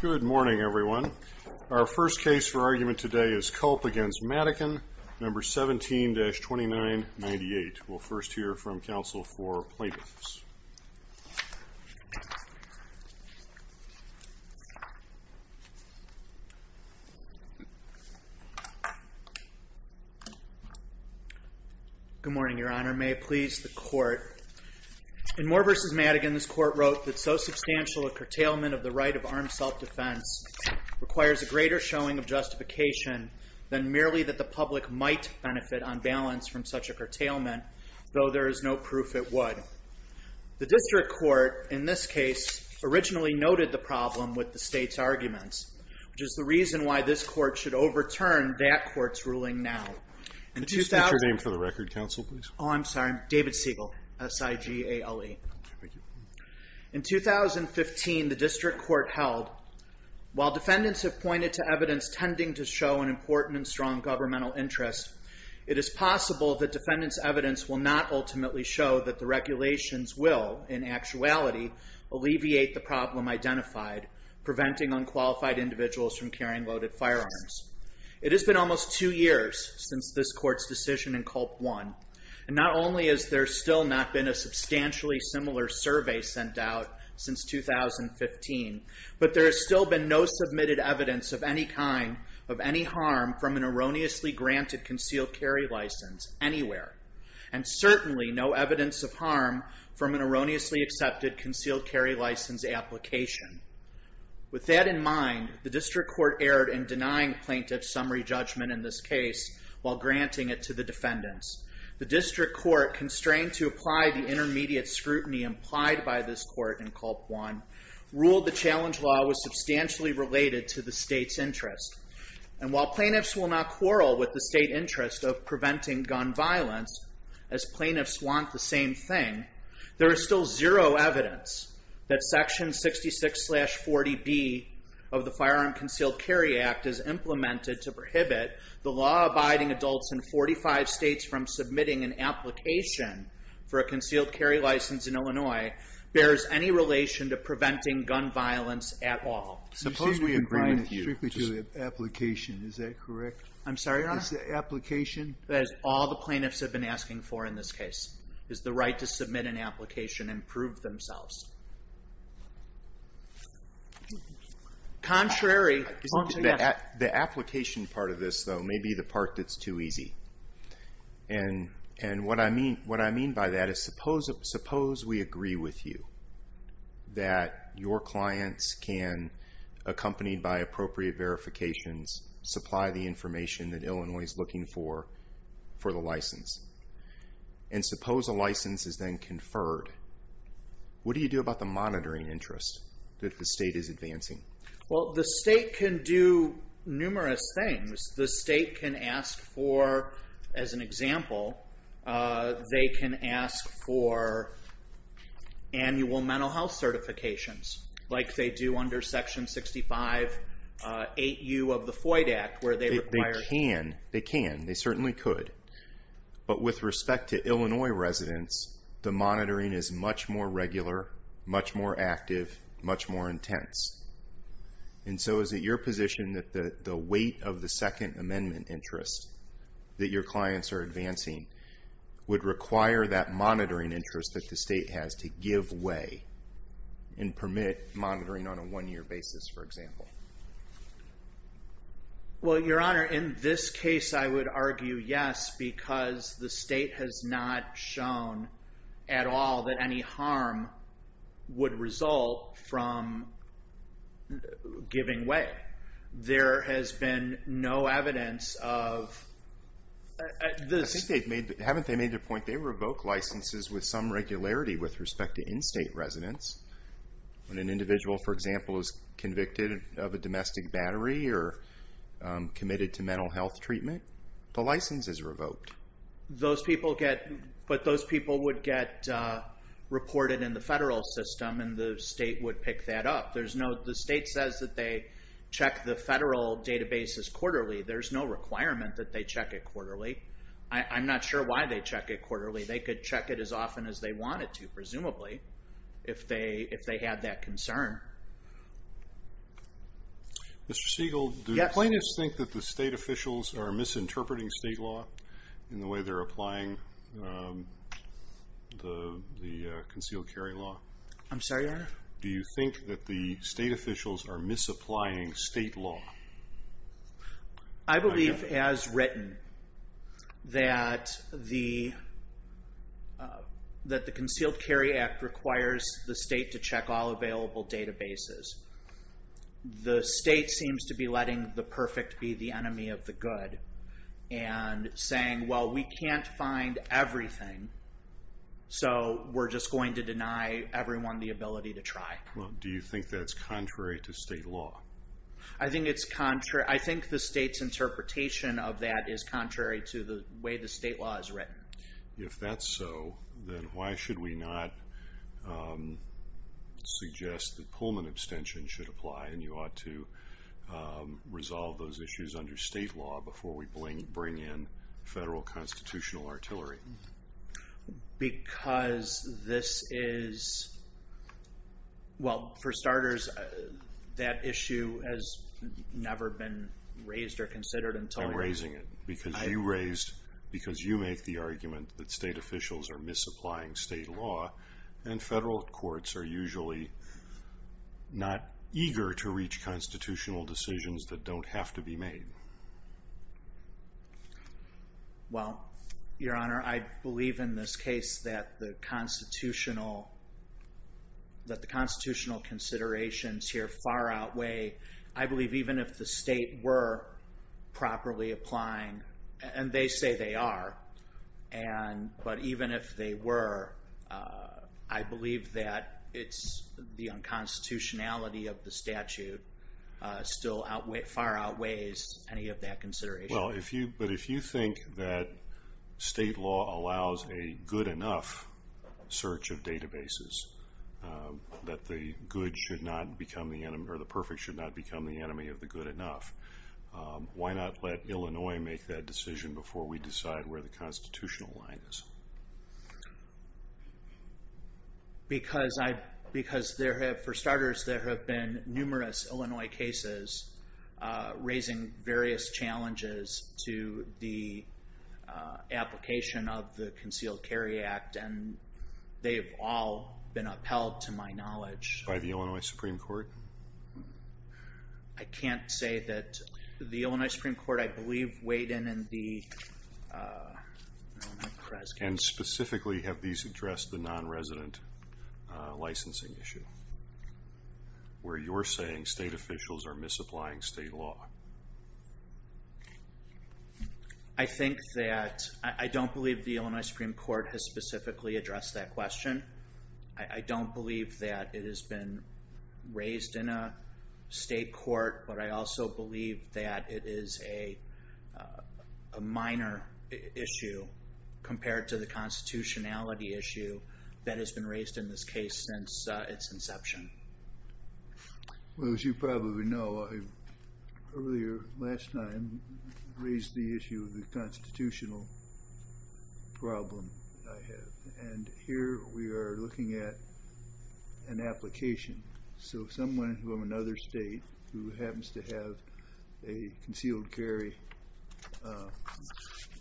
Good morning everyone. Our first case for argument today is Culp v. Madigan, number 17-2998. We'll first hear from counsel for plaintiffs. Good morning, Your Honor. May it please the Court. In Moore v. Madigan, this Court wrote that so substantial a curtailment of the right of armed self-defense requires a greater showing of justification than merely that the public might benefit on balance from such a curtailment, though there is no proof it would. The District Court, in this case, originally noted the problem with the State's arguments, which is the reason why this Court should overturn that Court's ruling now. Could you state your name for the record, counsel, please? Oh, I'm sorry. David Siegel, S-I-G-A-L-E. In 2015, the District Court held, while defendants have pointed to evidence tending to show an important and strong governmental interest, it is possible that defendants' evidence will not ultimately show that the regulations will, in actuality, alleviate the problem identified, preventing unqualified individuals from carrying loaded firearms. It has been almost two years since this Court's decision in Culp One, and not only has there still not been a substantially similar survey sent out since 2015, but there has still been no submitted evidence of any harm from an erroneously granted concealed carry license anywhere, and certainly no evidence of harm from an erroneously accepted concealed carry license application. With that in mind, the District Court erred in denying plaintiffs' summary judgment in this case, while granting it to the defendants. The District Court, constrained to apply the intermediate scrutiny implied by this Court in Culp One, ruled the challenge law was substantially related to the State's interest. And while plaintiffs will not quarrel with the State interest of preventing gun violence, as plaintiffs want the same thing, there is still zero evidence that Section 66-40B of the Firearm Concealed Carry Act is implemented to prohibit the law-abiding adults in 45 states from submitting an application for a concealed carry license in Illinois bears any relation to preventing gun violence at all. You say we agree with you strictly to the application, is that correct? I'm sorry, Your Honor? Is the application... That is all the plaintiffs have been asking for in this case, is the right to submit an application and prove themselves. Contrary... Contrary, yes. ...accompanied by appropriate verifications supply the information that Illinois is looking for, for the license. And suppose a license is then conferred, what do you do about the monitoring interest that the State is advancing? Well, the State can do numerous things. The State can ask for, as an example, they can ask for annual mental health certifications, like they do under Section 65-8U of the FOID Act, where they require... They can, they can, they certainly could. But with respect to Illinois residents, the monitoring is much more regular, much more active, much more intense. And so is it your position that the weight of the Second Amendment interest that your clients are advancing would require that monitoring interest that the State has to give way and permit monitoring on a one-year basis, for example? Well, Your Honor, in this case I would argue yes, because the State has not shown at all that any harm would result from giving way. There has been no evidence of... I think they've made, haven't they made the point they revoke licenses with some regularity with respect to in-State residents? When an individual, for example, is convicted of a domestic battery or committed to mental health treatment, the license is revoked. Those people get... But those people would get reported in the federal system, and the State would pick that up. There's no... The State says that they check the federal databases quarterly. There's no requirement that they check it quarterly. I'm not sure why they check it quarterly. They could check it as often as they wanted to, presumably, if they had that concern. Mr. Siegel, do you think that the State officials are misinterpreting State law in the way they're applying the concealed carry law? I'm sorry, Your Honor? Do you think that the State officials are misapplying State law? I believe as written that the Concealed Carry Act requires the State to check all available databases. The State seems to be letting the perfect be the enemy of the good and saying, well, we can't find everything, so we're just going to deny everyone the ability to try. Do you think that's contrary to State law? I think the State's interpretation of that is contrary to the way the State law is written. If that's so, then why should we not suggest that Pullman abstention should apply, and you ought to resolve those issues under State law before we bring in federal constitutional artillery? Because this is... Well, for starters, that issue has never been raised or considered until... I'm raising it because you make the argument that State officials are misapplying State law, and federal courts are usually not eager to reach constitutional decisions that don't have to be made. Well, Your Honor, I believe in this case that the constitutional considerations here far outweigh... I believe even if the State were properly applying, and they say they are, but even if they were, I believe that the unconstitutionality of the statute still far outweighs any of that consideration. Well, but if you think that State law allows a good enough search of databases, that the perfect should not become the enemy of the good enough, why not let Illinois make that decision before we decide where the constitutional line is? Because there have, for starters, there have been numerous Illinois cases raising various challenges to the application of the Concealed Carry Act, and they have all been upheld to my knowledge. By the Illinois Supreme Court? I can't say that. The Illinois Supreme Court, I believe, weighed in the... And specifically have these addressed the non-resident licensing issue, where you're saying State officials are misapplying State law? I think that I don't believe the Illinois Supreme Court has specifically addressed that question. I don't believe that it has been raised in a State court, but I also believe that it is a minor issue compared to the constitutionality issue that has been raised in this case since its inception. Well, as you probably know, I earlier, last time, raised the issue of the constitutional problem that I have, and here we are looking at an application. So someone from another State who happens to have a concealed carry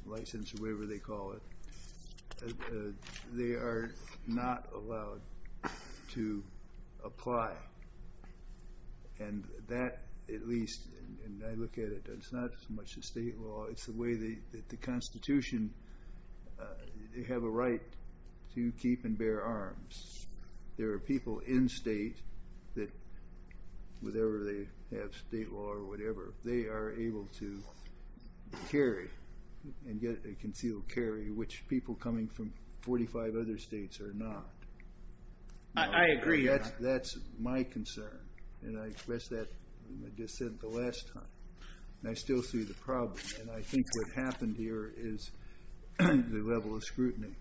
license, or whatever they call it, they are not allowed to apply. And that, at least, and I look at it, it's not so much the State law, it's the way that the constitution, they have a right to keep and bear arms. There are people in State that, whatever they have, State law or whatever, they are able to carry and get a concealed carry, which people coming from 45 other States are not. I agree. That's my concern, and I expressed that in my dissent the last time. And I still see the problem, and I think what happened here is the level of scrutiny.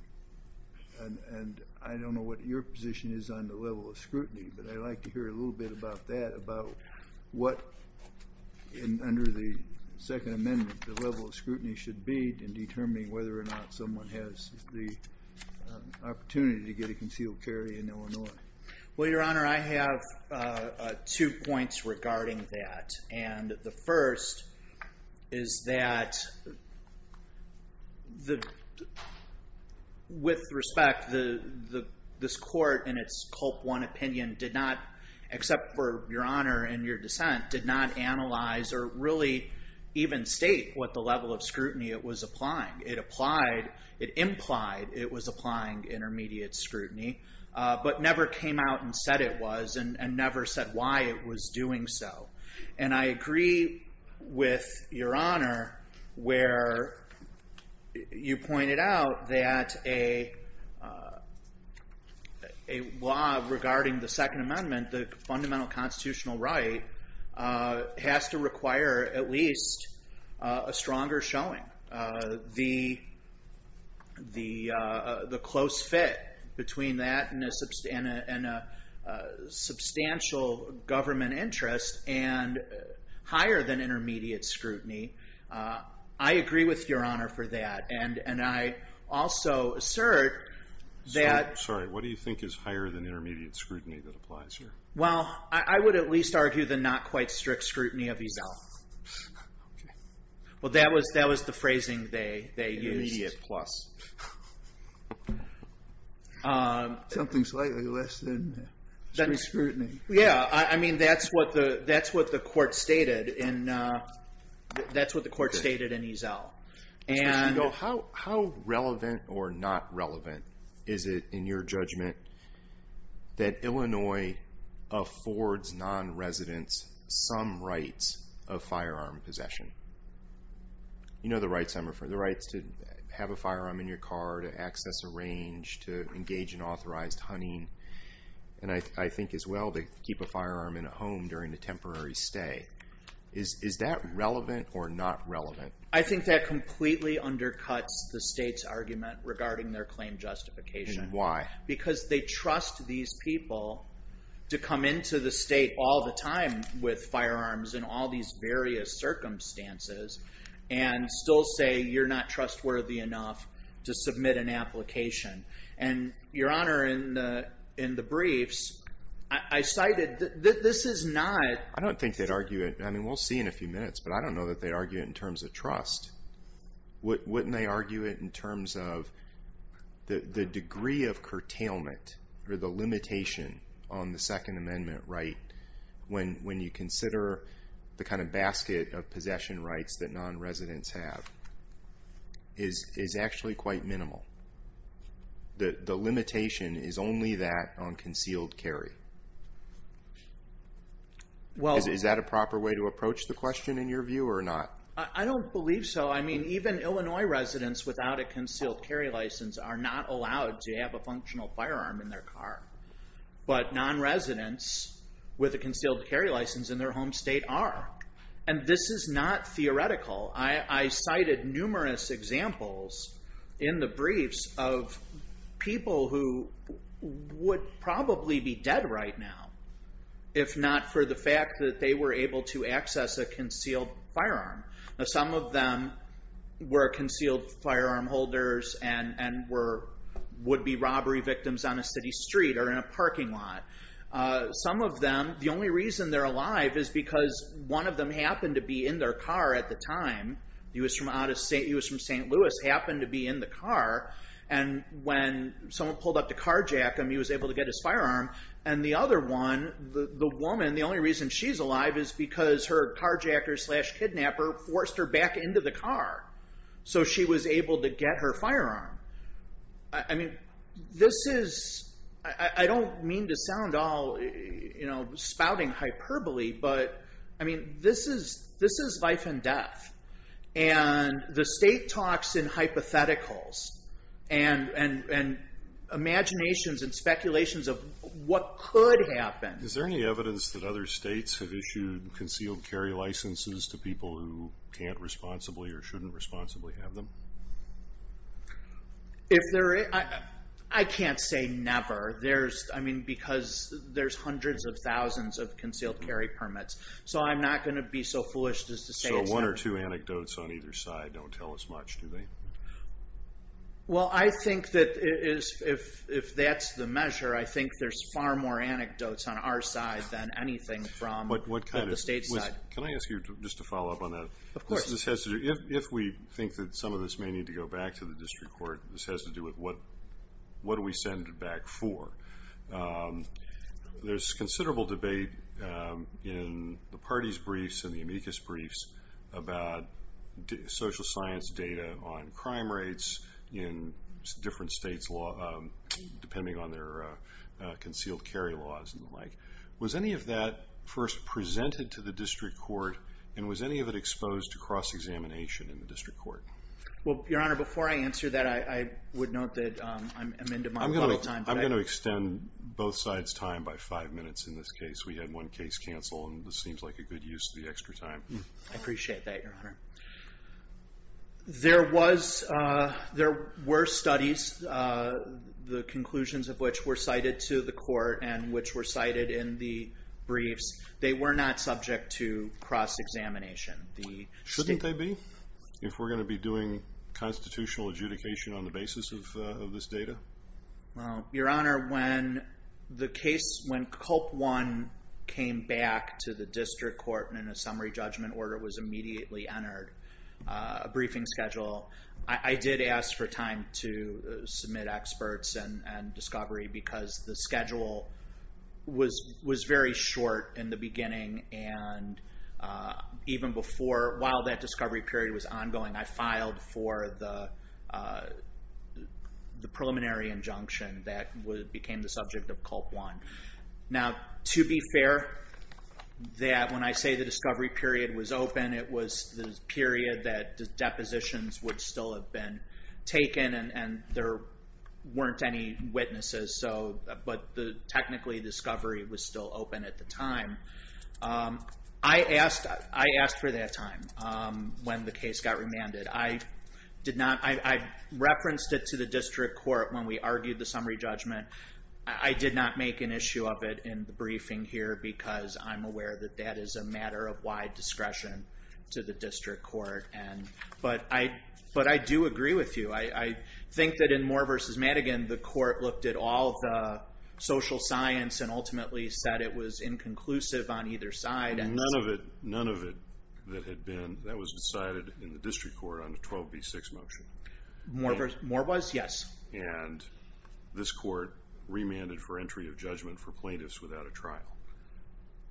And I don't know what your position is on the level of scrutiny, but I'd like to hear a little bit about that, about what, under the Second Amendment, the level of scrutiny should be in determining whether or not someone has the opportunity to get a concealed carry in Illinois. Well, Your Honor, I have two points regarding that. And the first is that, with respect, this Court, in its Culp One opinion, did not, except for Your Honor and your dissent, did not analyze or really even state what the level of scrutiny it was applying. It implied it was applying intermediate scrutiny, but never came out and said it was, and never said why it was doing so. And I agree with Your Honor where you pointed out that a law regarding the Second Amendment, the fundamental constitutional right, has to require at least a stronger showing. The close fit between that and a substantial government interest and higher than intermediate scrutiny. I agree with Your Honor for that. And I also assert that... Sorry. What do you think is higher than intermediate scrutiny that applies here? Well, I would at least argue the not quite strict scrutiny of EZAL. Okay. Well, that was the phrasing they used. Intermediate plus. Something slightly less than strict scrutiny. Yeah. I mean, that's what the Court stated in EZAL. And... How relevant or not relevant is it, in your judgment, that Illinois affords non-residents some rights of firearm possession? You know the rights I'm referring to. The rights to have a firearm in your car, to access a range, to engage in authorized hunting. And I think as well, to keep a firearm in a home during a temporary stay. Is that relevant or not relevant? I think that completely undercuts the state's argument regarding their claim justification. Why? Because they trust these people to come into the state all the time with firearms in all these various circumstances and still say you're not trustworthy enough to submit an application. And, Your Honor, in the briefs, I cited that this is not... I don't think they'd argue it. I mean, we'll see in a few minutes. But I don't know that they'd argue it in terms of trust. Wouldn't they argue it in terms of the degree of curtailment or the limitation on the Second Amendment right when you consider the kind of basket of possession rights that non-residents have is actually quite minimal. The limitation is only that on concealed carry. Is that a proper way to approach the question in your view or not? I don't believe so. I mean, even Illinois residents without a concealed carry license are not allowed to have a functional firearm in their car. But non-residents with a concealed carry license in their home state are. And this is not theoretical. I cited numerous examples in the briefs of people who would probably be dead right now if not for the fact that they were able to access a concealed firearm. Some of them were concealed firearm holders and would be robbery victims on a city street or in a parking lot. Some of them, the only reason they're alive is because one of them happened to be in their car at the time. He was from St. Louis, happened to be in the car. And when someone pulled up to carjack him, he was able to get his firearm. And the other one, the woman, the only reason she's alive is because her carjacker slash kidnapper forced her back into the car. So she was able to get her firearm. I mean, this is, I don't mean to sound all spouting hyperbole, but I mean, this is life and death. And the state talks in hypotheticals and imaginations and speculations of what could happen. Is there any evidence that other states have issued concealed carry licenses to people who can't responsibly or shouldn't responsibly have them? If there is, I can't say never. Because there's hundreds of thousands of concealed carry permits. So I'm not going to be so foolish as to say it's never. So one or two anecdotes on either side don't tell as much, do they? Well, I think that if that's the measure, I think there's far more anecdotes on our side than anything from the state side. Can I ask you just to follow up on that? Of course. If we think that some of this may need to go back to the district court, this has to do with what do we send it back for? There's considerable debate in the parties' briefs and the amicus briefs about social science data on crime rates in different states, depending on their concealed carry laws and the like. Was any of that first presented to the district court? And was any of it exposed to cross-examination in the district court? Well, Your Honor, before I answer that, I would note that I'm into my bullet time. I'm going to extend both sides' time by five minutes in this case. We had one case cancel, and this seems like a good use of the extra time. I appreciate that, Your Honor. There were studies, the conclusions of which were cited to the court and which were cited in the briefs. They were not subject to cross-examination. Shouldn't they be if we're going to be doing constitutional adjudication on the basis of this data? Your Honor, when the case, when Culp One came back to the district court and a summary judgment order was immediately entered, a briefing schedule, I did ask for time to submit experts and discovery because the schedule was very short in the beginning, and even while that discovery period was ongoing, I filed for the preliminary injunction that became the subject of Culp One. Now, to be fair, when I say the discovery period was open, it was the period that depositions would still have been taken and there weren't any witnesses, but technically discovery was still open at the time. I asked for that time when the case got remanded. I referenced it to the district court when we argued the summary judgment. I did not make an issue of it in the briefing here because I'm aware that that is a matter of wide discretion to the district court, but I do agree with you. I think that in Moore v. Madigan, the court looked at all the social science and ultimately said it was inconclusive on either side. None of it that had been, that was decided in the district court on the 12B6 motion. Moore was, yes. And this court remanded for entry of judgment for plaintiffs without a trial.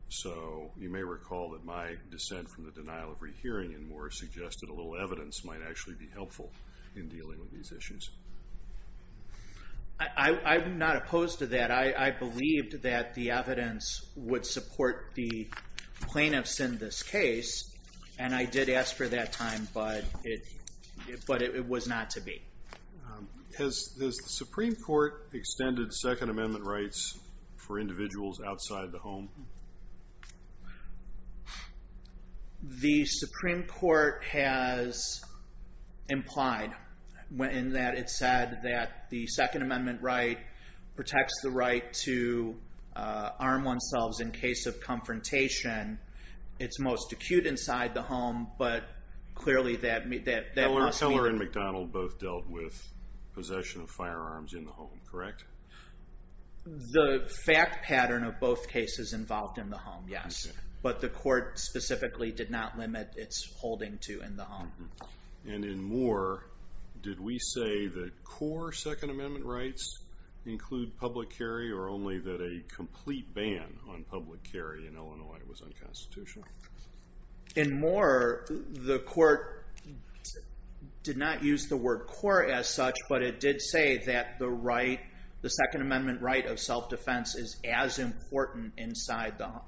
So you may recall that my dissent from the denial of rehearing in Moore suggested a little evidence might actually be helpful in dealing with these issues. I'm not opposed to that. I believed that the evidence would support the plaintiffs in this case, and I did ask for that time, but it was not to be. Has the Supreme Court extended Second Amendment rights for individuals outside the home? The Supreme Court has implied in that it said that the Second Amendment right protects the right to arm oneselves in case of confrontation. It's most acute inside the home, but clearly that must be the case. Miller and McDonald both dealt with possession of firearms in the home, correct? The fact pattern of both cases involved in the home, yes. But the court specifically did not limit its holding to in the home. And in Moore, did we say that core Second Amendment rights include public carry or only that a complete ban on public carry in Illinois was unconstitutional? In Moore, the court did not use the word core as such, but it did say that the Second Amendment right of self-defense is as important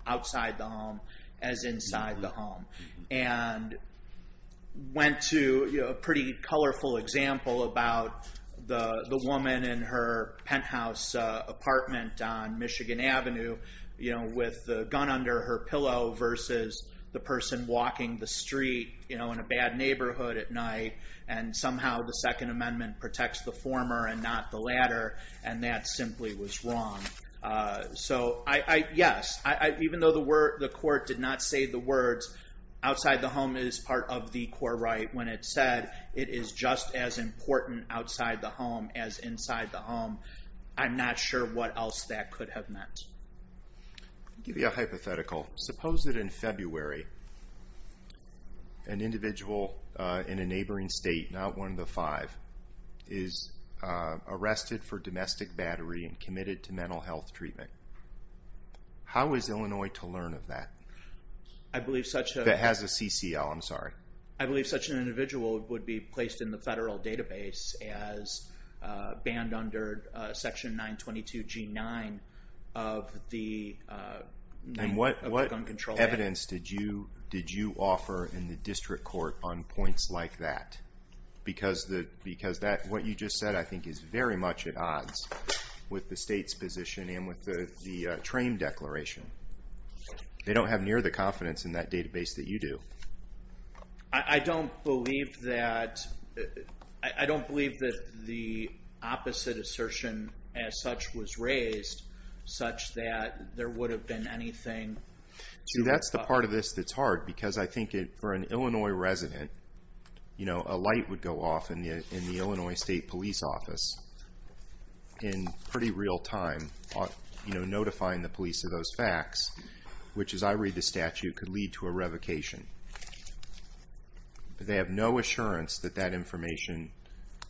outside the home as inside the home. And went to a pretty colorful example about the woman in her penthouse apartment on Michigan Avenue with the gun under her pillow versus the person walking the street in a bad neighborhood at night, and somehow the Second Amendment protects the former and not the latter, and that simply was wrong. So yes, even though the court did not say the words outside the home is part of the core right when it said it is just as important outside the home as inside the home, I'm not sure what else that could have meant. I'll give you a hypothetical. Suppose that in February an individual in a neighboring state, not one of the five, is arrested for domestic battery and committed to mental health treatment. How is Illinois to learn of that? That has a CCL, I'm sorry. I believe such an individual would be placed in the federal database as banned under Section 922G9 of the Gun Control Act. And what evidence did you offer in the district court on points like that? Because what you just said I think is very much at odds with the state's position and with the train declaration. They don't have near the confidence in that database that you do. I don't believe that the opposite assertion as such was raised such that there would have been anything. See, that's the part of this that's hard, because I think for an Illinois resident, a light would go off in the Illinois State Police Office in pretty real time, notifying the police of those facts, which, as I read the statute, could lead to a revocation. They have no assurance that that information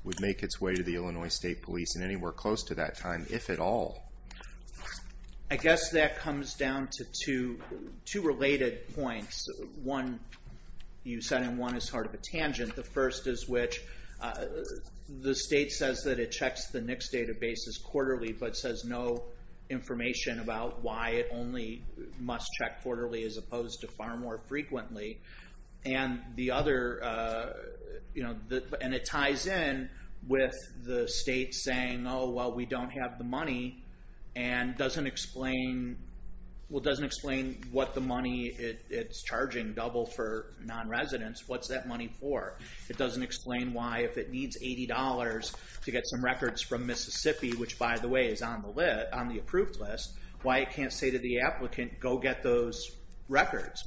would make its way to the Illinois State Police in anywhere close to that time, if at all. I guess that comes down to two related points. One, you said, and one is sort of a tangent, the first is which the state says that it checks the NICS databases quarterly but says no information about why it only must check quarterly as opposed to far more frequently. And the other, you know, and it ties in with the state saying, oh, well, we don't have the money, and doesn't explain, well, doesn't explain what the money it's charging, double for non-residents, what's that money for? It doesn't explain why if it needs $80 to get some records from Mississippi, which, by the way, is on the approved list, why it can't say to the applicant, go get those records.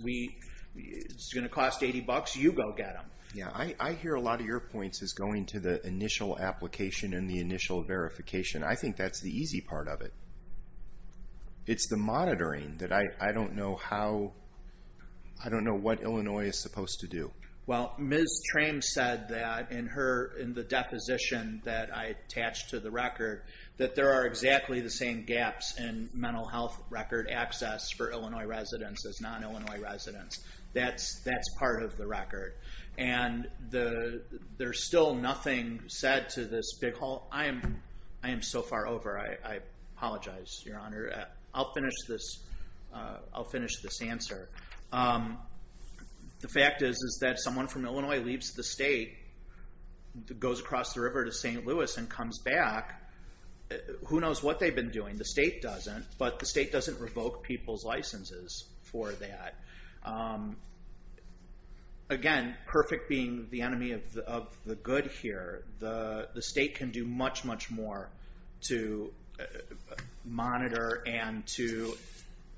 It's going to cost $80, you go get them. Yeah, I hear a lot of your points as going to the initial application and the initial verification. I think that's the easy part of it. It's the monitoring that I don't know how, I don't know what Illinois is supposed to do. Well, Ms. Trame said that in the deposition that I attached to the record that there are exactly the same gaps in mental health record access for Illinois residents as non-Illinois residents. That's part of the record. And there's still nothing said to this big whole. I am so far over. I apologize, Your Honor. I'll finish this answer. The fact is that someone from Illinois leaves the state, goes across the river to St. Louis and comes back, who knows what they've been doing. The state doesn't, but the state doesn't revoke people's licenses for that. Again, perfect being the enemy of the good here, the state can do much, much more to monitor and to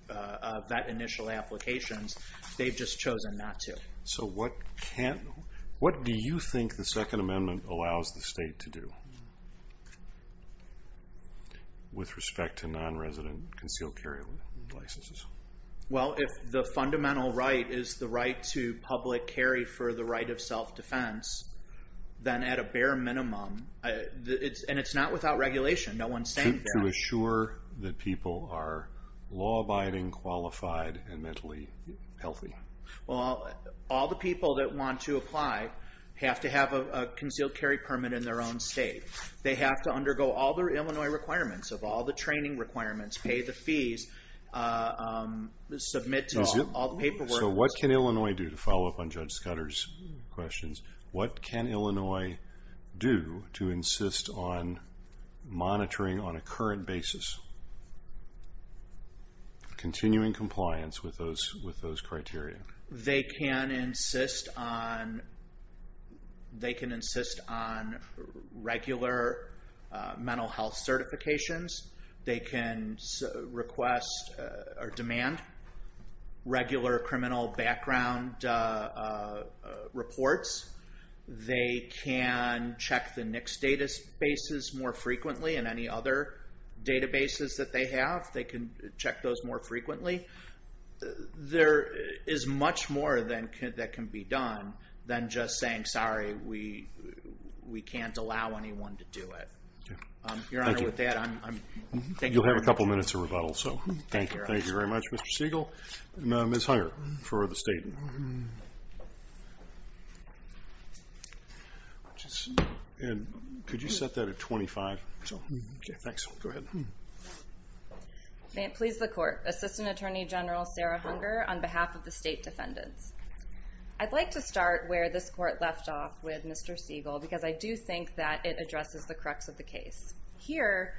vet initial applications. They've just chosen not to. So what do you think the Second Amendment allows the state to do with respect to non-resident concealed carry licenses? Well, if the fundamental right is the right to public carry for the right of self-defense, then at a bare minimum, and it's not without regulation. To assure that people are law-abiding, qualified, and mentally healthy. Well, all the people that want to apply have to have a concealed carry permit in their own state. They have to undergo all the Illinois requirements of all the training requirements, pay the fees, submit to all the paperwork. So what can Illinois do, to follow up on Judge Scudder's questions, what can Illinois do to insist on monitoring on a current basis, continuing compliance with those criteria? They can insist on regular mental health certifications. They can demand regular criminal background reports. They can check the NICS databases more frequently, and any other databases that they have, they can check those more frequently. There is much more that can be done than just saying, sorry, we can't allow anyone to do it. Your Honor, with that, I'm done. You'll have a couple minutes of rebuttal. Thank you, Your Honor. Thank you very much, Mr. Siegel. Ms. Hunger, for the State. Could you set that at 25? Okay, thanks. Go ahead. May it please the Court, Assistant Attorney General Sarah Hunger, on behalf of the State Defendants. I'd like to start where this Court left off with Mr. Siegel, because I do think that it addresses the crux of the case. Here,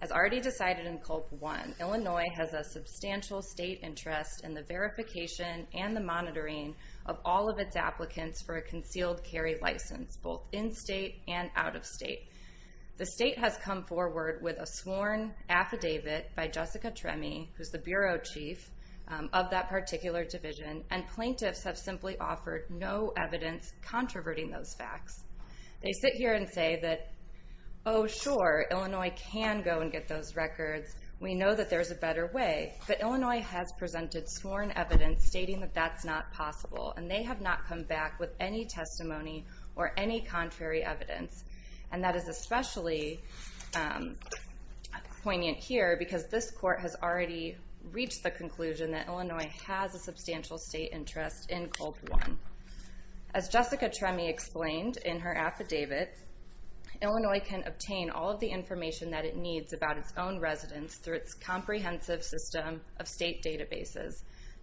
as already decided in Culp 1, Illinois has a substantial State interest in the verification and the monitoring of all of its applicants for a concealed carry license, both in State and out of State. The State has come forward with a sworn affidavit by Jessica Tremme, who's the Bureau Chief of that particular division, and plaintiffs have simply offered no evidence controverting those facts. They sit here and say that, oh, sure, Illinois can go and get those records. We know that there's a better way. But Illinois has presented sworn evidence stating that that's not possible, and they have not come back with any testimony or any contrary evidence. And that is especially poignant here, because this Court has already reached the conclusion that Illinois has a substantial State interest in Culp 1. As Jessica Tremme explained in her affidavit, Illinois can obtain all of the information that it needs about its own residents through its comprehensive system of State databases,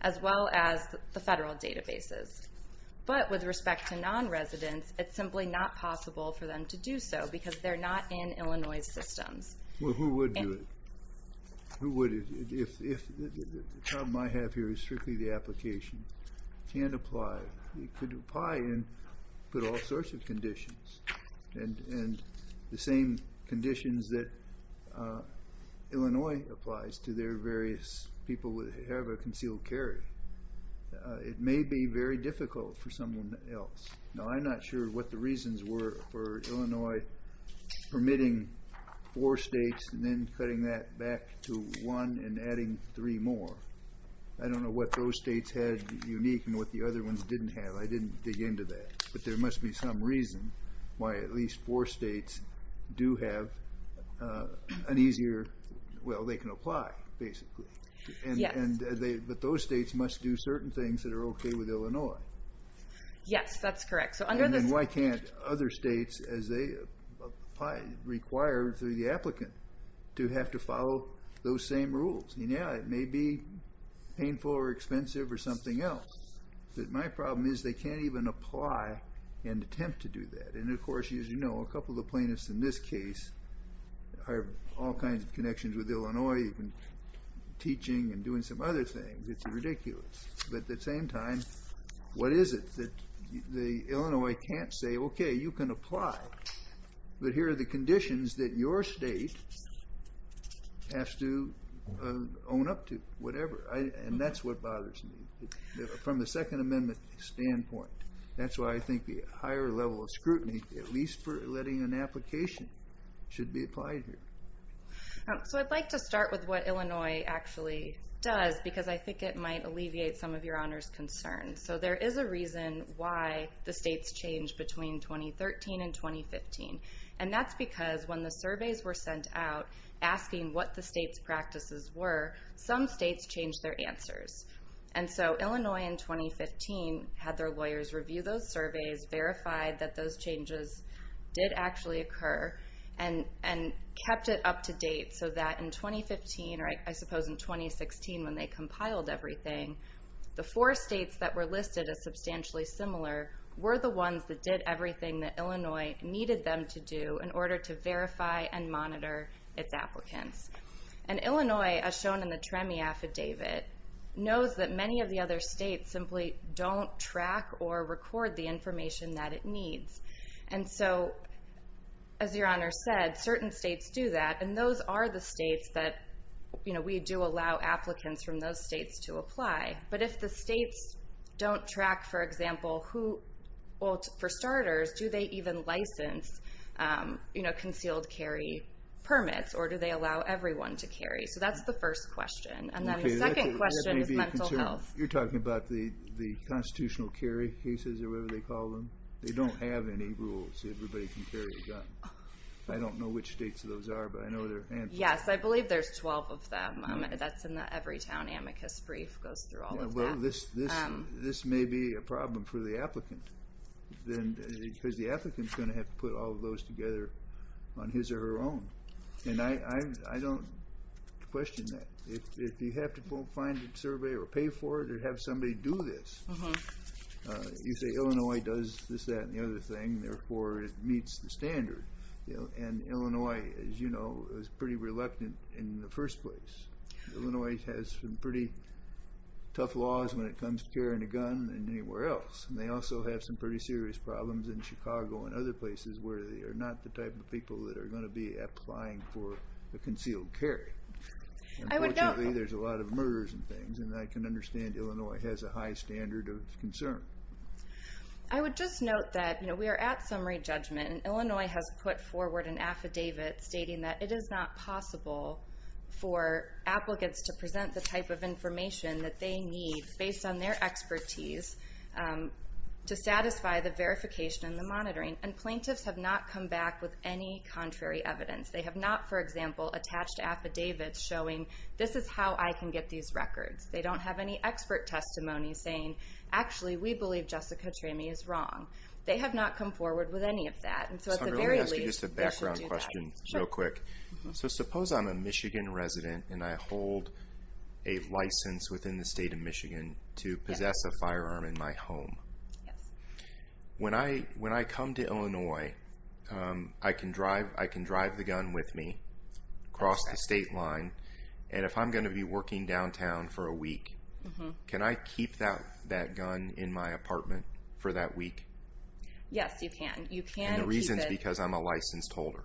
as well as the Federal databases. But with respect to non-residents, it's simply not possible for them to do so because they're not in Illinois's systems. Well, who would do it? Who would? The problem I have here is strictly the application. You can't apply. You could apply and put all sorts of conditions, and the same conditions that Illinois applies to their various people would have a concealed carry. It may be very difficult for someone else. No, I'm not sure what the reasons were for Illinois permitting four States and then cutting that back to one and adding three more. I don't know what those States had unique and what the other ones didn't have. I didn't dig into that. But there must be some reason why at least four States do have an easier – well, they can apply, basically. But those States must do certain things that are okay with Illinois. Yes, that's correct. And then why can't other States, as they require through the applicant, to have to follow those same rules? Yeah, it may be painful or expensive or something else. But my problem is they can't even apply and attempt to do that. And, of course, as you know, a couple of the plaintiffs in this case have all kinds of connections with Illinois, even teaching and doing some other things. It's ridiculous. But at the same time, what is it that Illinois can't say, okay, you can apply, but here are the conditions that your State has to own up to, whatever. And that's what bothers me from the Second Amendment standpoint. That's why I think the higher level of scrutiny, at least for letting an application, should be applied here. So I'd like to start with what Illinois actually does because I think it might alleviate some of your honors concerns. So there is a reason why the States changed between 2013 and 2015. And that's because when the surveys were sent out asking what the States' practices were, some States changed their answers. And so Illinois in 2015 had their lawyers review those surveys, verified that those changes did actually occur, and kept it up to date so that in 2015, or I suppose in 2016 when they compiled everything, the four States that were listed as substantially similar were the ones that did everything that Illinois needed them to do in order to verify and monitor its applicants. And Illinois, as shown in the TREMI affidavit, knows that many of the other States simply don't track or record the information that it needs. And so, as your honors said, certain States do that, and those are the States that we do allow applicants from those States to apply. But if the States don't track, for example, who... Well, for starters, do they even license concealed carry permits, or do they allow everyone to carry? So that's the first question. And then the second question is mental health. You're talking about the constitutional carry cases or whatever they call them? They don't have any rules. Everybody can carry a gun. I don't know which States those are, but I know they're handfuls. Yes, I believe there's 12 of them. That's in the Everytown amicus brief, goes through all of that. Well, this may be a problem for the applicant, because the applicant's going to have to put all of those together on his or her own. And I don't question that. If you have to find a survey or pay for it or have somebody do this, you say Illinois does this, that, and the other thing, and therefore it meets the standard. And Illinois, as you know, is pretty reluctant in the first place. Illinois has some pretty tough laws when it comes to carrying a gun than anywhere else. And they also have some pretty serious problems in Chicago and other places where they are not the type of people that are going to be applying for a concealed carry. Unfortunately, there's a lot of murders and things, and I can understand Illinois has a high standard of concern. I would just note that we are at summary judgment, and Illinois has put forward an affidavit stating that it is not possible for applicants to present the type of information that they need, based on their expertise, to satisfy the verification and the monitoring. And plaintiffs have not come back with any contrary evidence. They have not, for example, attached affidavits showing, this is how I can get these records. They don't have any expert testimony saying, actually, we believe Jessica Tramey is wrong. They have not come forward with any of that. And so at the very least, they should do that. Let me ask you just a background question real quick. Sure. So suppose I'm a Michigan resident and I hold a license within the state of Michigan to possess a firearm in my home. Yes. When I come to Illinois, I can drive the gun with me, cross the state line, and if I'm going to be working downtown for a week, can I keep that gun in my apartment for that week? Yes, you can. And the reason is because I'm a licensed holder.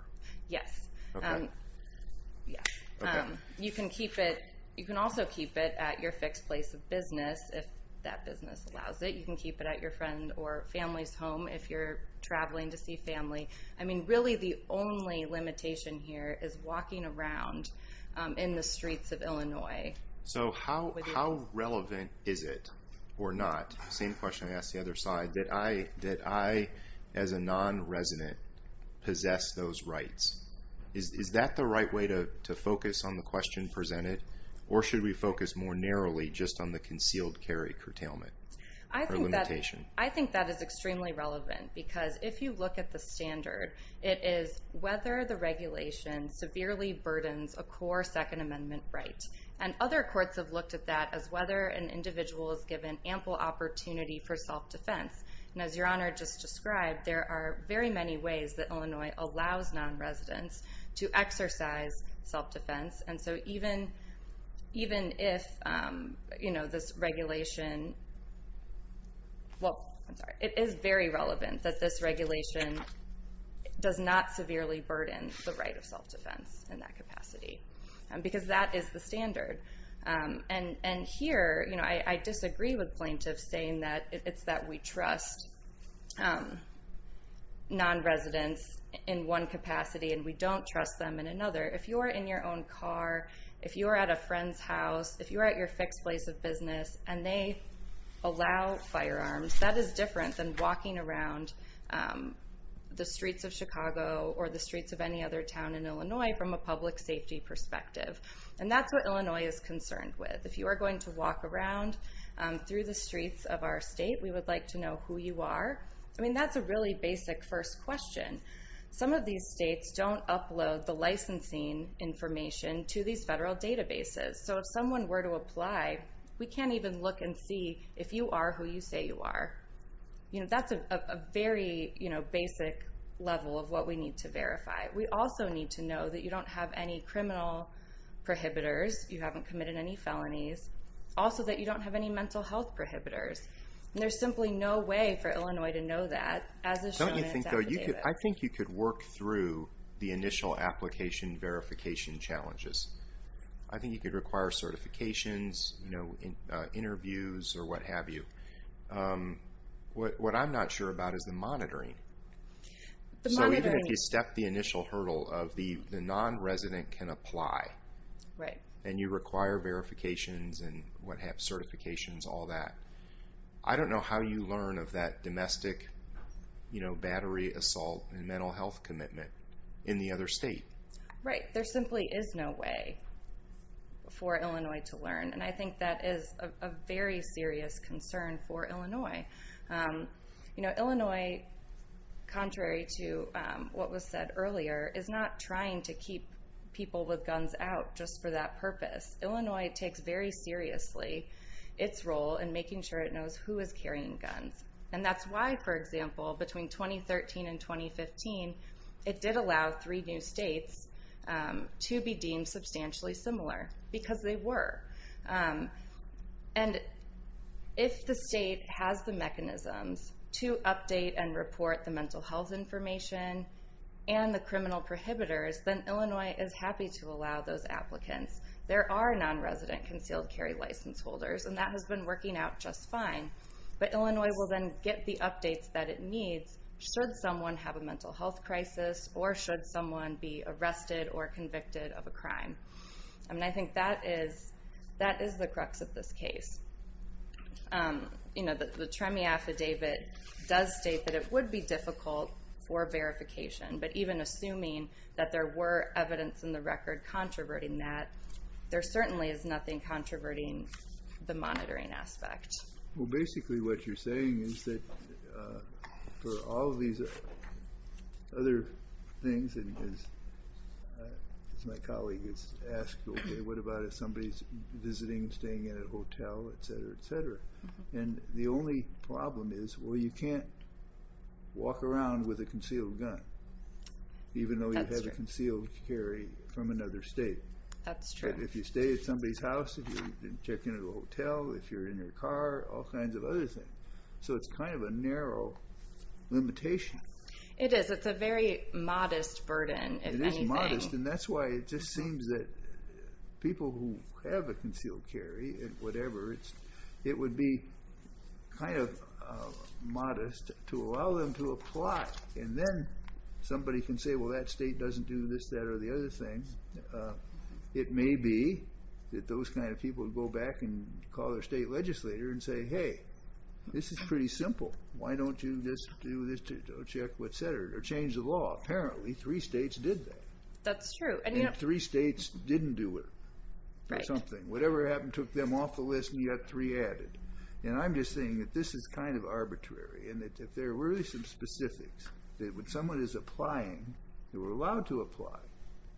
Yes. Okay. Yes. Okay. You can also keep it at your fixed place of business, if that business allows it. You can keep it at your friend's or family's home if you're traveling to see family. I mean, really the only limitation here is walking around in the streets of Illinois. So how relevant is it or not? Same question I asked the other side. Did I, as a non-resident, possess those rights? Is that the right way to focus on the question presented, or should we focus more narrowly just on the concealed carry curtailment or limitation? I think that is extremely relevant because if you look at the standard, it is whether the regulation severely burdens a core Second Amendment right. And other courts have looked at that as whether an individual is given ample opportunity for self-defense. And as Your Honor just described, there are very many ways that Illinois allows non-residents to exercise self-defense. And so even if this regulation – well, I'm sorry. It is very relevant that this regulation does not severely burden the right of self-defense in that capacity because that is the standard. And here I disagree with plaintiffs saying that it's that we trust non-residents in one capacity and we don't trust them in another. If you are in your own car, if you are at a friend's house, if you are at your fixed place of business and they allow firearms, that is different than walking around the streets of Chicago or the streets of any other town in Illinois from a public safety perspective. And that's what Illinois is concerned with. If you are going to walk around through the streets of our state, we would like to know who you are. I mean, that's a really basic first question. Some of these states don't upload the licensing information to these federal databases. So if someone were to apply, we can't even look and see if you are who you say you are. That's a very basic level of what we need to verify. We also need to know that you don't have any criminal prohibitors, you haven't committed any felonies, also that you don't have any mental health prohibitors. And there's simply no way for Illinois to know that, as is shown in Zach and David. I think you could work through the initial application verification challenges. I think you could require certifications, interviews, or what have you. What I'm not sure about is the monitoring. So even if you step the initial hurdle of the non-resident can apply, and you require verifications and what have certifications, all that, I don't know how you learn of that domestic battery assault and mental health commitment in the other state. Right. There simply is no way for Illinois to learn. And I think that is a very serious concern for Illinois. Illinois, contrary to what was said earlier, is not trying to keep people with guns out just for that purpose. Illinois takes very seriously its role in making sure it knows who is carrying guns. And that's why, for example, between 2013 and 2015, it did allow three new states to be deemed substantially similar, because they were. And if the state has the mechanisms to update and report the mental health information and the criminal prohibitors, then Illinois is happy to allow those applicants. There are non-resident concealed carry license holders, and that has been working out just fine. But Illinois will then get the updates that it needs should someone have a mental health crisis or should someone be arrested or convicted of a crime. And I think that is the crux of this case. The TREMI affidavit does state that it would be difficult for verification, but even assuming that there were evidence in the record controverting that, there certainly is nothing controverting the monitoring aspect. Well, basically what you're saying is that for all of these other things, as my colleague has asked, okay, what about if somebody is visiting, staying in a hotel, et cetera, et cetera? And the only problem is, well, you can't walk around with a concealed gun, even though you have a concealed carry from another state. That's true. If you stay at somebody's house, if you check into a hotel, if you're in your car, all kinds of other things. So it's kind of a narrow limitation. It is. It's a very modest burden, if anything. It is modest, and that's why it just seems that people who have a concealed carry, whatever, it would be kind of modest to allow them to apply, and then somebody can say, well, that state doesn't do this, that, or the other thing. It may be that those kind of people go back and call their state legislator and say, hey, this is pretty simple. Why don't you just do this to check, et cetera, or change the law? Apparently three states did that. That's true. And three states didn't do it or something. Whatever happened took them off the list, and you got three added. And I'm just saying that this is kind of arbitrary, and that if there were some specifics that when someone is applying, they were allowed to apply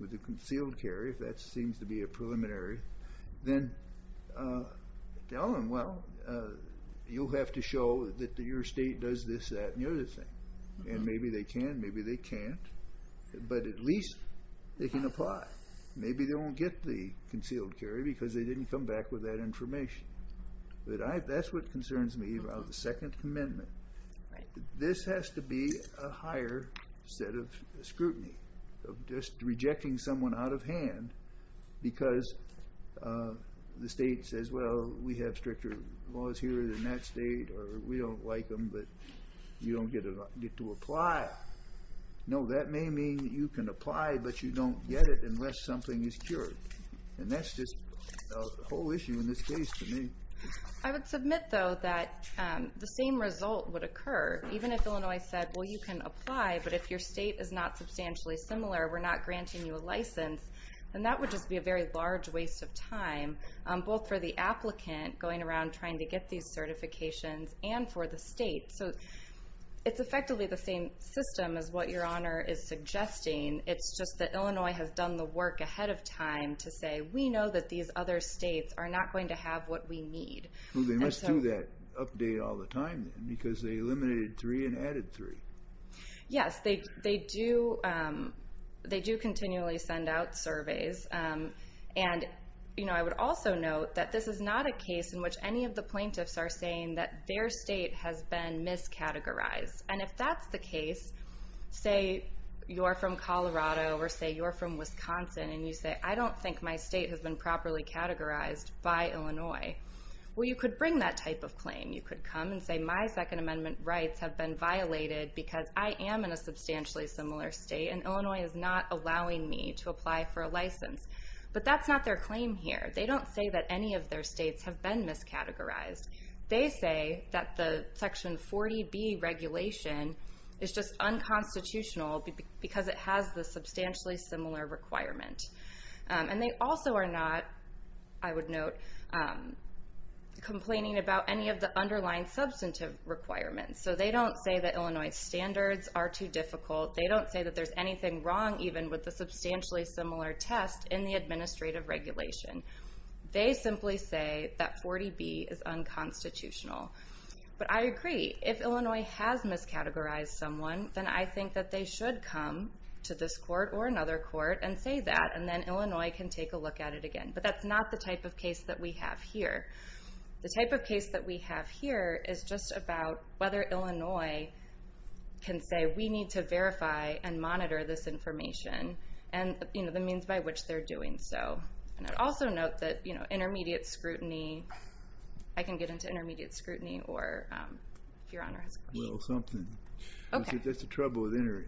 with a concealed carry, if that seems to be a preliminary, then tell them, well, you'll have to show that your state does this, that, and the other thing. And maybe they can, maybe they can't, but at least they can apply. Maybe they won't get the concealed carry because they didn't come back with that information. That's what concerns me about the Second Amendment. This has to be a higher set of scrutiny of just rejecting someone out of hand because the state says, well, we have stricter laws here in that state, or we don't like them, but you don't get to apply. No, that may mean that you can apply, but you don't get it unless something is cured. And that's just a whole issue in this case to me. I would submit, though, that the same result would occur. Even if Illinois said, well, you can apply, but if your state is not substantially similar, we're not granting you a license, then that would just be a very large waste of time, both for the applicant going around trying to get these certifications and for the state. So it's effectively the same system as what Your Honor is suggesting. It's just that Illinois has done the work ahead of time to say, we know that these other states are not going to have what we need. Well, they must do that update all the time then because they eliminated three and added three. Yes, they do continually send out surveys. And I would also note that this is not a case in which any of the plaintiffs are saying that their state has been miscategorized. And if that's the case, say you're from Colorado or say you're from Wisconsin, and you say, I don't think my state has been properly categorized by Illinois. Well, you could bring that type of claim. You could come and say, my Second Amendment rights have been violated because I am in a substantially similar state, and Illinois is not allowing me to apply for a license. But that's not their claim here. They don't say that any of their states have been miscategorized. They say that the Section 40B regulation is just unconstitutional because it has the substantially similar requirement. And they also are not, I would note, complaining about any of the underlying substantive requirements. So they don't say that Illinois standards are too difficult. They don't say that there's anything wrong even with a substantially similar test in the administrative regulation. They simply say that 40B is unconstitutional. But I agree. If Illinois has miscategorized someone, then I think that they should come to this court or another court and say that, and then Illinois can take a look at it again. But that's not the type of case that we have here. The type of case that we have here is just about whether Illinois can say, we need to verify and monitor this information and the means by which they're doing so. And I'd also note that intermediate scrutiny, I can get into intermediate scrutiny, or if Your Honor has a question. Well, something. Okay. That's the trouble with the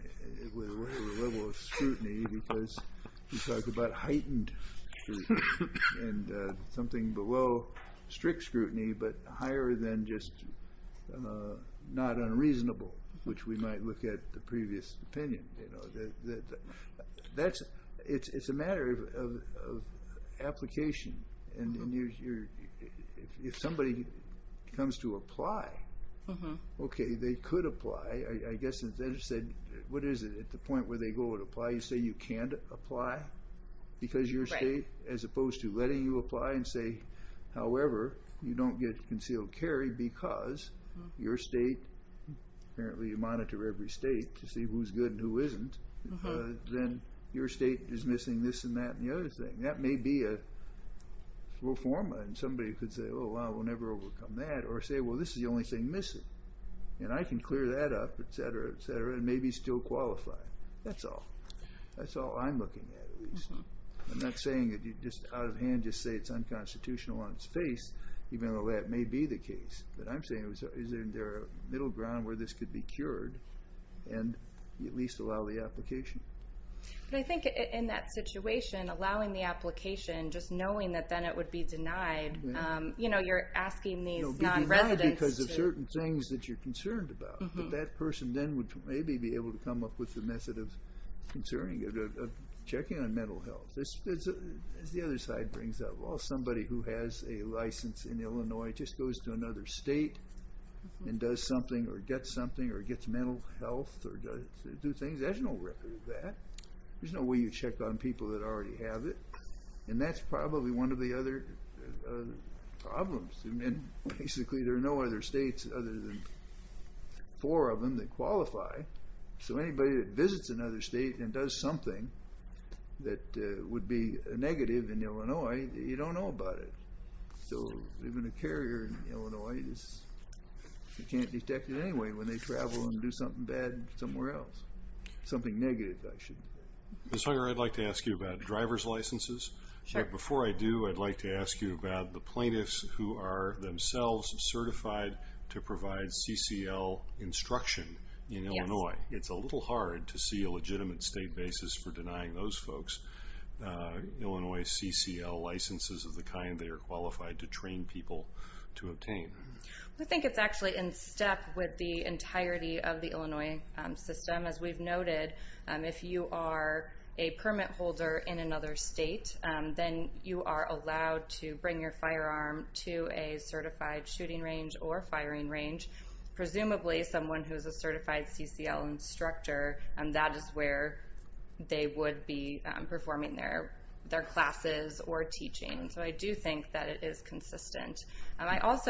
level of scrutiny because we talk about heightened scrutiny and something below strict scrutiny, but higher than just not unreasonable, which we might look at the previous opinion. It's a matter of application. And if somebody comes to apply, okay, they could apply. I guess instead of saying, what is it, at the point where they go and apply, you say you can't apply because your state, as opposed to letting you apply and say, however, you don't get concealed carry because your state, apparently you monitor every state to see who's good and who isn't, then your state is missing this and that and the other thing. That may be a reform, and somebody could say, oh, well, we'll never overcome that, or say, well, this is the only thing missing, and I can clear that up, et cetera, et cetera, and maybe still qualify. That's all. That's all I'm looking at, at least. I'm not saying that you just out of hand just say it's unconstitutional on its face, even though that may be the case. What I'm saying is, is there a middle ground where this could be cured and at least allow the application? But I think in that situation, allowing the application, just knowing that then it would be denied, you know, you're asking these non-residents. It would be denied because of certain things that you're concerned about, but that person then would maybe be able to come up with a method of checking on mental health. As the other side brings up, well, somebody who has a license in Illinois just goes to another state and does something or gets something or gets mental health or does things, there's no record of that. There's no way you check on people that already have it, and that's probably one of the other problems. Basically, there are no other states other than four of them that qualify. So anybody that visits another state and does something that would be negative in Illinois, you don't know about it. So even a carrier in Illinois, you can't detect it anyway when they travel and do something bad somewhere else, something negative, I should say. Ms. Hunger, I'd like to ask you about driver's licenses. Before I do, I'd like to ask you about the plaintiffs who are themselves certified to provide CCL instruction in Illinois. It's a little hard to see a legitimate state basis for denying those folks Illinois CCL licenses of the kind they are qualified to train people to obtain. I think it's actually in step with the entirety of the Illinois system. As we've noted, if you are a permit holder in another state, then you are allowed to bring your firearm to a certified shooting range or firing range. Presumably someone who is a certified CCL instructor, that is where they would be performing their classes or teaching. So I do think that it is consistent. But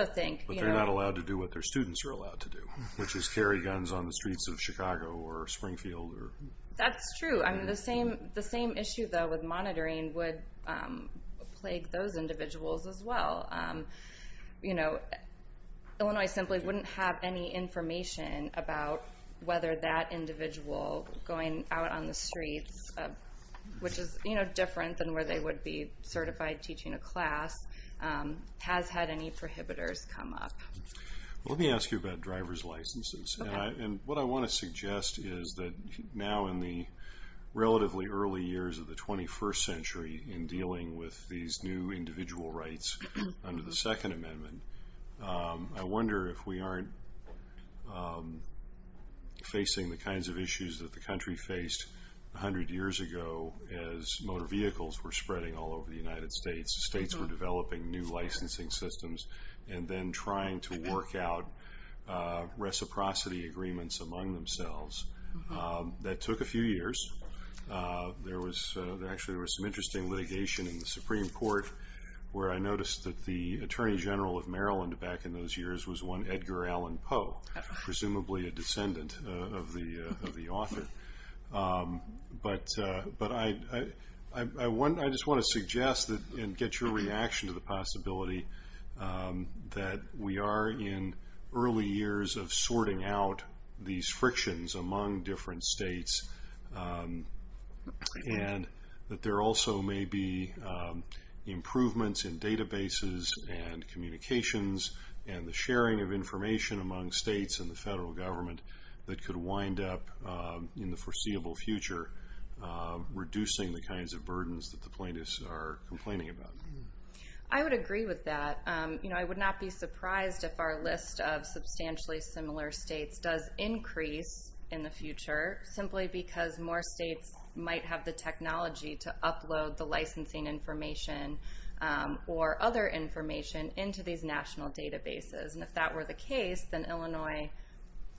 they're not allowed to do what their students are allowed to do, which is carry guns on the streets of Chicago or Springfield. That's true. The same issue, though, with monitoring would plague those individuals as well. Illinois simply wouldn't have any information about whether that individual going out on the streets, which is different than where they would be certified teaching a class, has had any prohibitors come up. Let me ask you about driver's licenses. What I want to suggest is that now in the relatively early years of the 21st century in dealing with these new individual rights under the Second Amendment, I wonder if we aren't facing the kinds of issues that the country faced 100 years ago as motor vehicles were spreading all over the United States, states were developing new licensing systems, and then trying to work out reciprocity agreements among themselves. That took a few years. Actually, there was some interesting litigation in the Supreme Court where I noticed that the Attorney General of Maryland back in those years was one Edgar Allan Poe, presumably a descendant of the author. But I just want to suggest and get your reaction to the possibility that we are in early years of sorting out these frictions among different states, and that there also may be improvements in databases and communications and the sharing of information among states and the federal government that could wind up in the foreseeable future reducing the kinds of burdens that the plaintiffs are complaining about. I would agree with that. I would not be surprised if our list of substantially similar states does increase in the future simply because more states might have the technology to upload the licensing information or other information into these national databases. And if that were the case, then Illinois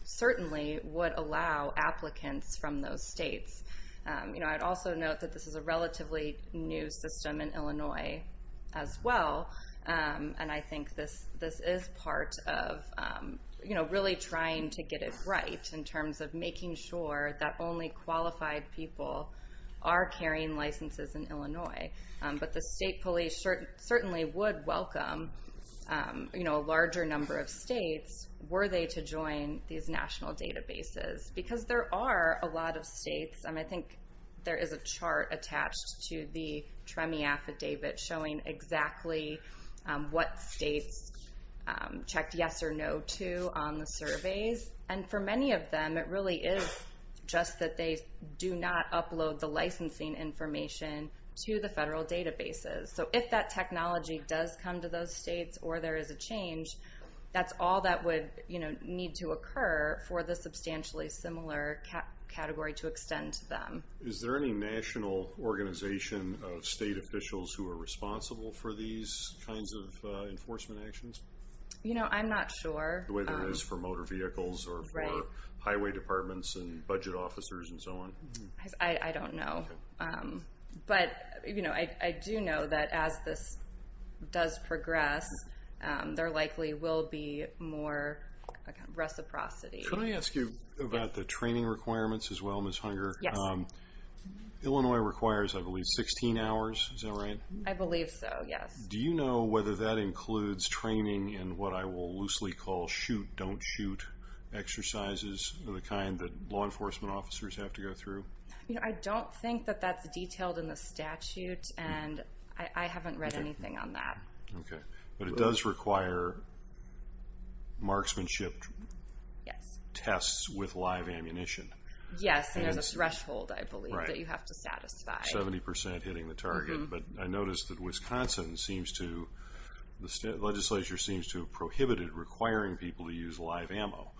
certainly would allow applicants from those states. I'd also note that this is a relatively new system in Illinois as well, and I think this is part of really trying to get it right in terms of making sure that only qualified people are carrying licenses in Illinois. But the state police certainly would welcome a larger number of states were they to join these national databases because there are a lot of states. I think there is a chart attached to the TREMI affidavit showing exactly what states checked yes or no to on the surveys, and for many of them it really is just that they do not upload the licensing information to the federal databases. So if that technology does come to those states or there is a change, that's all that would need to occur for the substantially similar category to extend to them. Is there any national organization of state officials who are responsible for these kinds of enforcement actions? I'm not sure. Whether it is for motor vehicles or highway departments and budget officers and so on? I don't know. But I do know that as this does progress, there likely will be more reciprocity. Can I ask you about the training requirements as well, Ms. Hunger? Illinois requires, I believe, 16 hours, is that right? I believe so, yes. Do you know whether that includes training in what I will loosely call shoot-don't-shoot exercises of the kind that law enforcement officers have to go through? I don't think that that's detailed in the statute, and I haven't read anything on that. Okay. But it does require marksmanship tests with live ammunition. Yes, and there's a threshold, I believe, that you have to satisfy. Seventy percent hitting the target. But I noticed that Wisconsin seems to, the legislature seems to have prohibited requiring people to use live ammo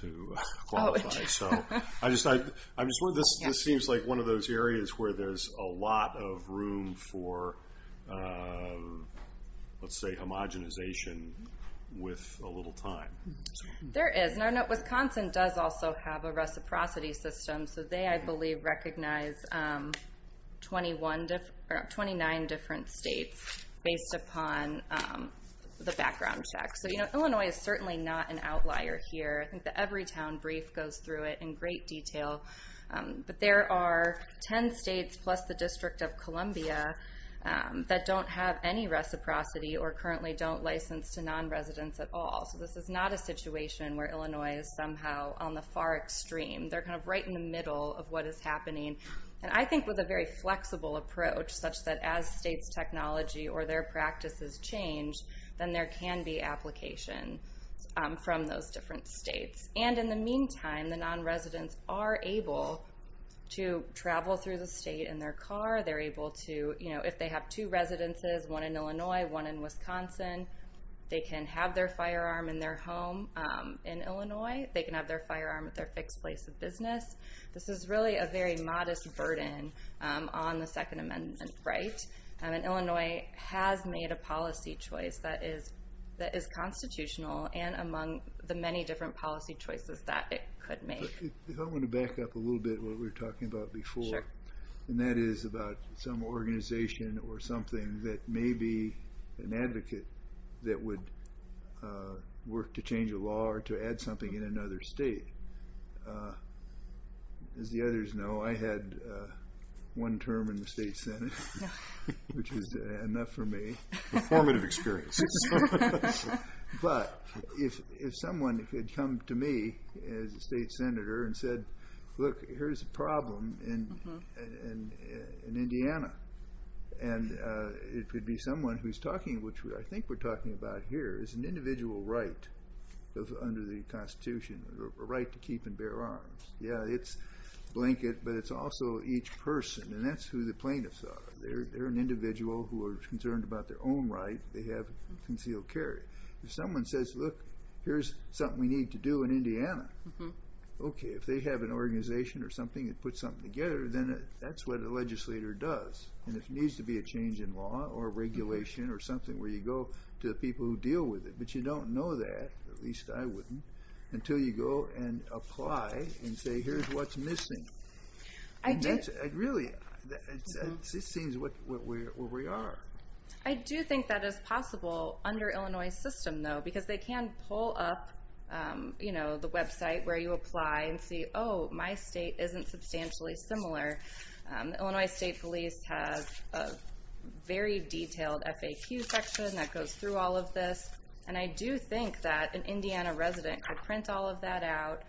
to qualify. I'm just wondering, this seems like one of those areas where there's a lot of room for, let's say, homogenization with a little time. There is, and I know Wisconsin does also have a reciprocity system, so they, I believe, recognize 29 different states based upon the background check. So, you know, Illinois is certainly not an outlier here. I think the Everytown Brief goes through it in great detail. But there are 10 states plus the District of Columbia that don't have any reciprocity or currently don't license to non-residents at all. So this is not a situation where Illinois is somehow on the far extreme. They're kind of right in the middle of what is happening. And I think with a very flexible approach, such that as states' technology or their practices change, then there can be application from those different states. And in the meantime, the non-residents are able to travel through the state in their car. They're able to, you know, if they have two residences, one in Illinois, one in Wisconsin, they can have their firearm in their home in Illinois. They can have their firearm at their fixed place of business. This is really a very modest burden on the Second Amendment right. And Illinois has made a policy choice that is constitutional and among the many different policy choices that it could make. If I want to back up a little bit what we were talking about before, and that is about some organization or something that may be an advocate that would work to change a law or to add something in another state. As the others know, I had one term in the state senate, which is enough for me. A formative experience. But if someone could come to me as a state senator and said, look, here's a problem in Indiana. And it could be someone who's talking, which I think we're talking about here, is an individual right under the Constitution, a right to keep and bear arms. Yeah, it's a blanket, but it's also each person, and that's who the plaintiffs are. They're an individual who are concerned about their own right. They have concealed carry. If someone says, look, here's something we need to do in Indiana. Okay, if they have an organization or something that puts something together, then that's what a legislator does. And if there needs to be a change in law or regulation or something where you go to the people who deal with it, but you don't know that, at least I wouldn't, until you go and apply and say, here's what's missing. Really, it seems where we are. I do think that is possible under Illinois' system, though, because they can pull up the website where you apply and see, oh, my state isn't substantially similar. Illinois State Police has a very detailed FAQ section that goes through all of this. And I do think that an Indiana resident could print all of that out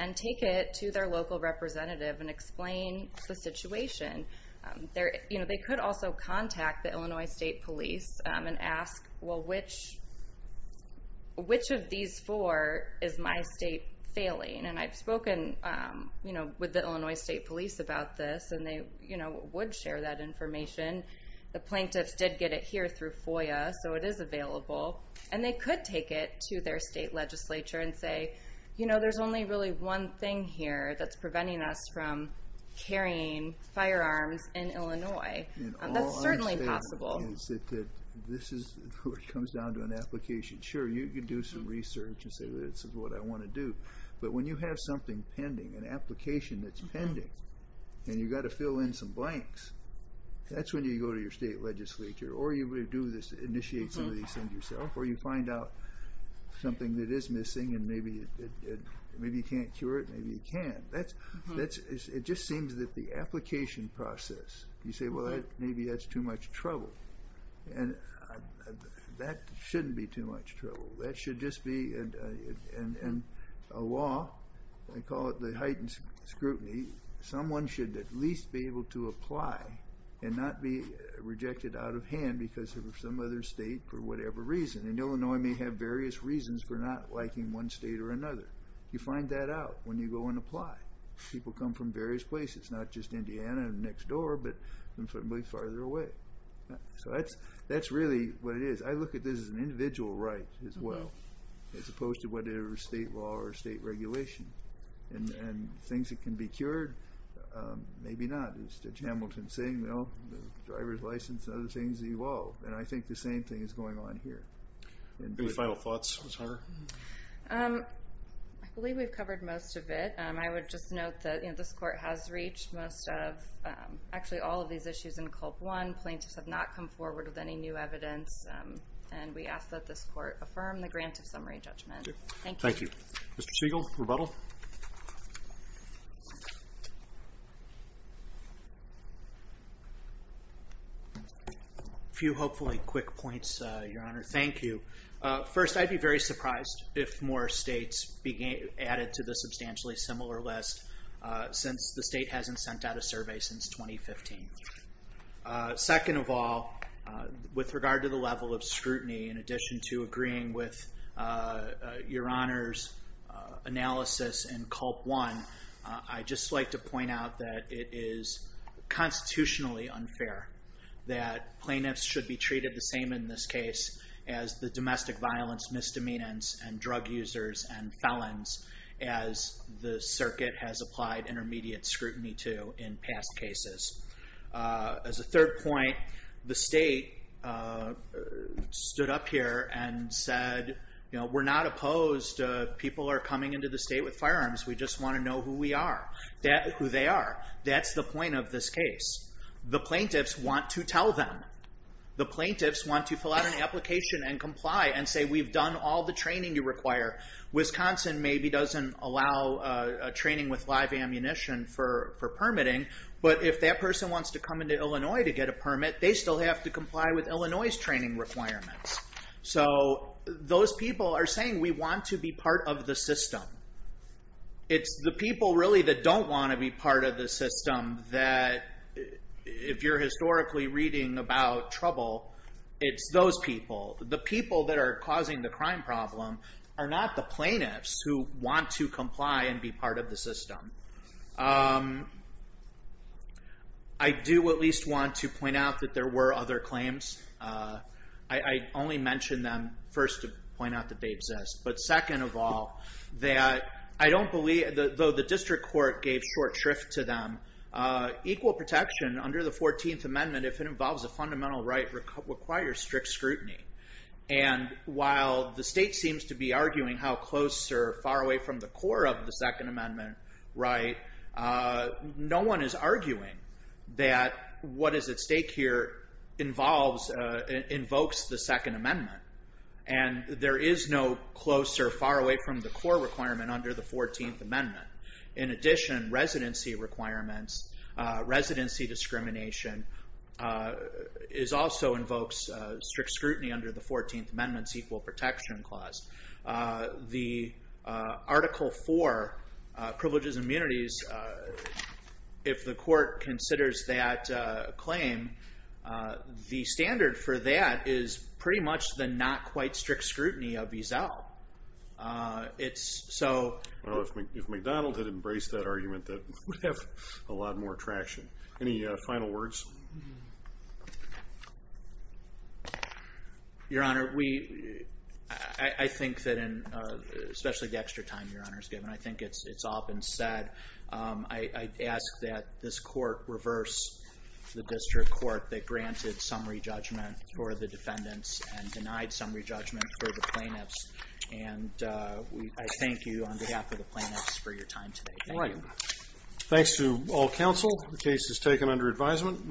and take it to their local representative and explain the situation. They could also contact the Illinois State Police and ask, well, which of these four is my state failing? And I've spoken with the Illinois State Police about this, and they would share that information. The plaintiffs did get it here through FOIA, so it is available. And they could take it to their state legislature and say, you know, there's only really one thing here that's preventing us from carrying firearms in Illinois. That's certainly possible. All I'm saying is that this comes down to an application. Sure, you can do some research and say, this is what I want to do. But when you have something pending, an application that's pending, and you've got to fill in some blanks, that's when you go to your state legislature or you initiate some of these things yourself, or you find out something that is missing and maybe you can't cure it. Maybe you can. It just seems that the application process, you say, well, maybe that's too much trouble. And that shouldn't be too much trouble. That should just be a law. I call it the heightened scrutiny. Someone should at least be able to apply and not be rejected out of hand because of some other state for whatever reason. And Illinois may have various reasons for not liking one state or another. You find that out when you go and apply. People come from various places, not just Indiana and next door, but probably farther away. So that's really what it is. I look at this as an individual right as well, as opposed to whatever state law or state regulation. And things that can be cured, maybe not. It's the Hamilton-Singh, the driver's license, and other things evolve. And I think the same thing is going on here. Any final thoughts, Ms. Hunter? I believe we've covered most of it. I would just note that this court has reached most of, actually all of these issues in Culp One. Plaintiffs have not come forward with any new evidence. And we ask that this court affirm the grant of summary judgment. Thank you. Thank you. Mr. Spiegel, rebuttal? A few hopefully quick points, Your Honor. Thank you. First, I'd be very surprised if more states added to the substantially similar list since the state hasn't sent out a survey since 2015. Second of all, with regard to the level of scrutiny, in addition to agreeing with Your Honor's analysis in Culp One, I'd just like to point out that it is constitutionally unfair that plaintiffs should be treated the same in this case as the domestic violence misdemeanors and drug users and felons as the circuit has applied intermediate scrutiny to in past cases. As a third point, the state stood up here and said, you know, we're not opposed. People are coming into the state with firearms. We just want to know who we are, who they are. That's the point of this case. The plaintiffs want to tell them. The plaintiffs want to fill out an application and comply and say we've done all the training you require. Wisconsin maybe doesn't allow training with live ammunition for permitting, but if that person wants to come into Illinois to get a permit, they still have to comply with Illinois' training requirements. So those people are saying we want to be part of the system. It's the people really that don't want to be part of the system that, if you're historically reading about trouble, it's those people. The people that are causing the crime problem are not the plaintiffs who want to comply and be part of the system. I do at least want to point out that there were other claims. I only mentioned them first to point out that they exist, but second of all, that I don't believe, though the district court gave short shrift to them, equal protection under the 14th Amendment, if it involves a fundamental right, it requires strict scrutiny. While the state seems to be arguing how close or far away from the core of the Second Amendment right, no one is arguing that what is at stake here invokes the Second Amendment. There is no close or far away from the core requirement under the 14th Amendment. In addition, residency requirements, residency discrimination, also invokes strict scrutiny under the 14th Amendment's Equal Protection Clause. The Article 4, Privileges and Immunities, if the court considers that claim, the standard for that is pretty much the not-quite-strict scrutiny of EZEL. If McDonald had embraced that argument, that would have a lot more traction. Any final words? Your Honor, I think that, especially the extra time Your Honor has given, I think it's often said, I ask that this court reverse the district court that granted summary judgment for the defendants and denied summary judgment for the plaintiffs. I thank you on behalf of the plaintiffs for your time today. All right. Thanks to all counsel. The case is taken under advisement.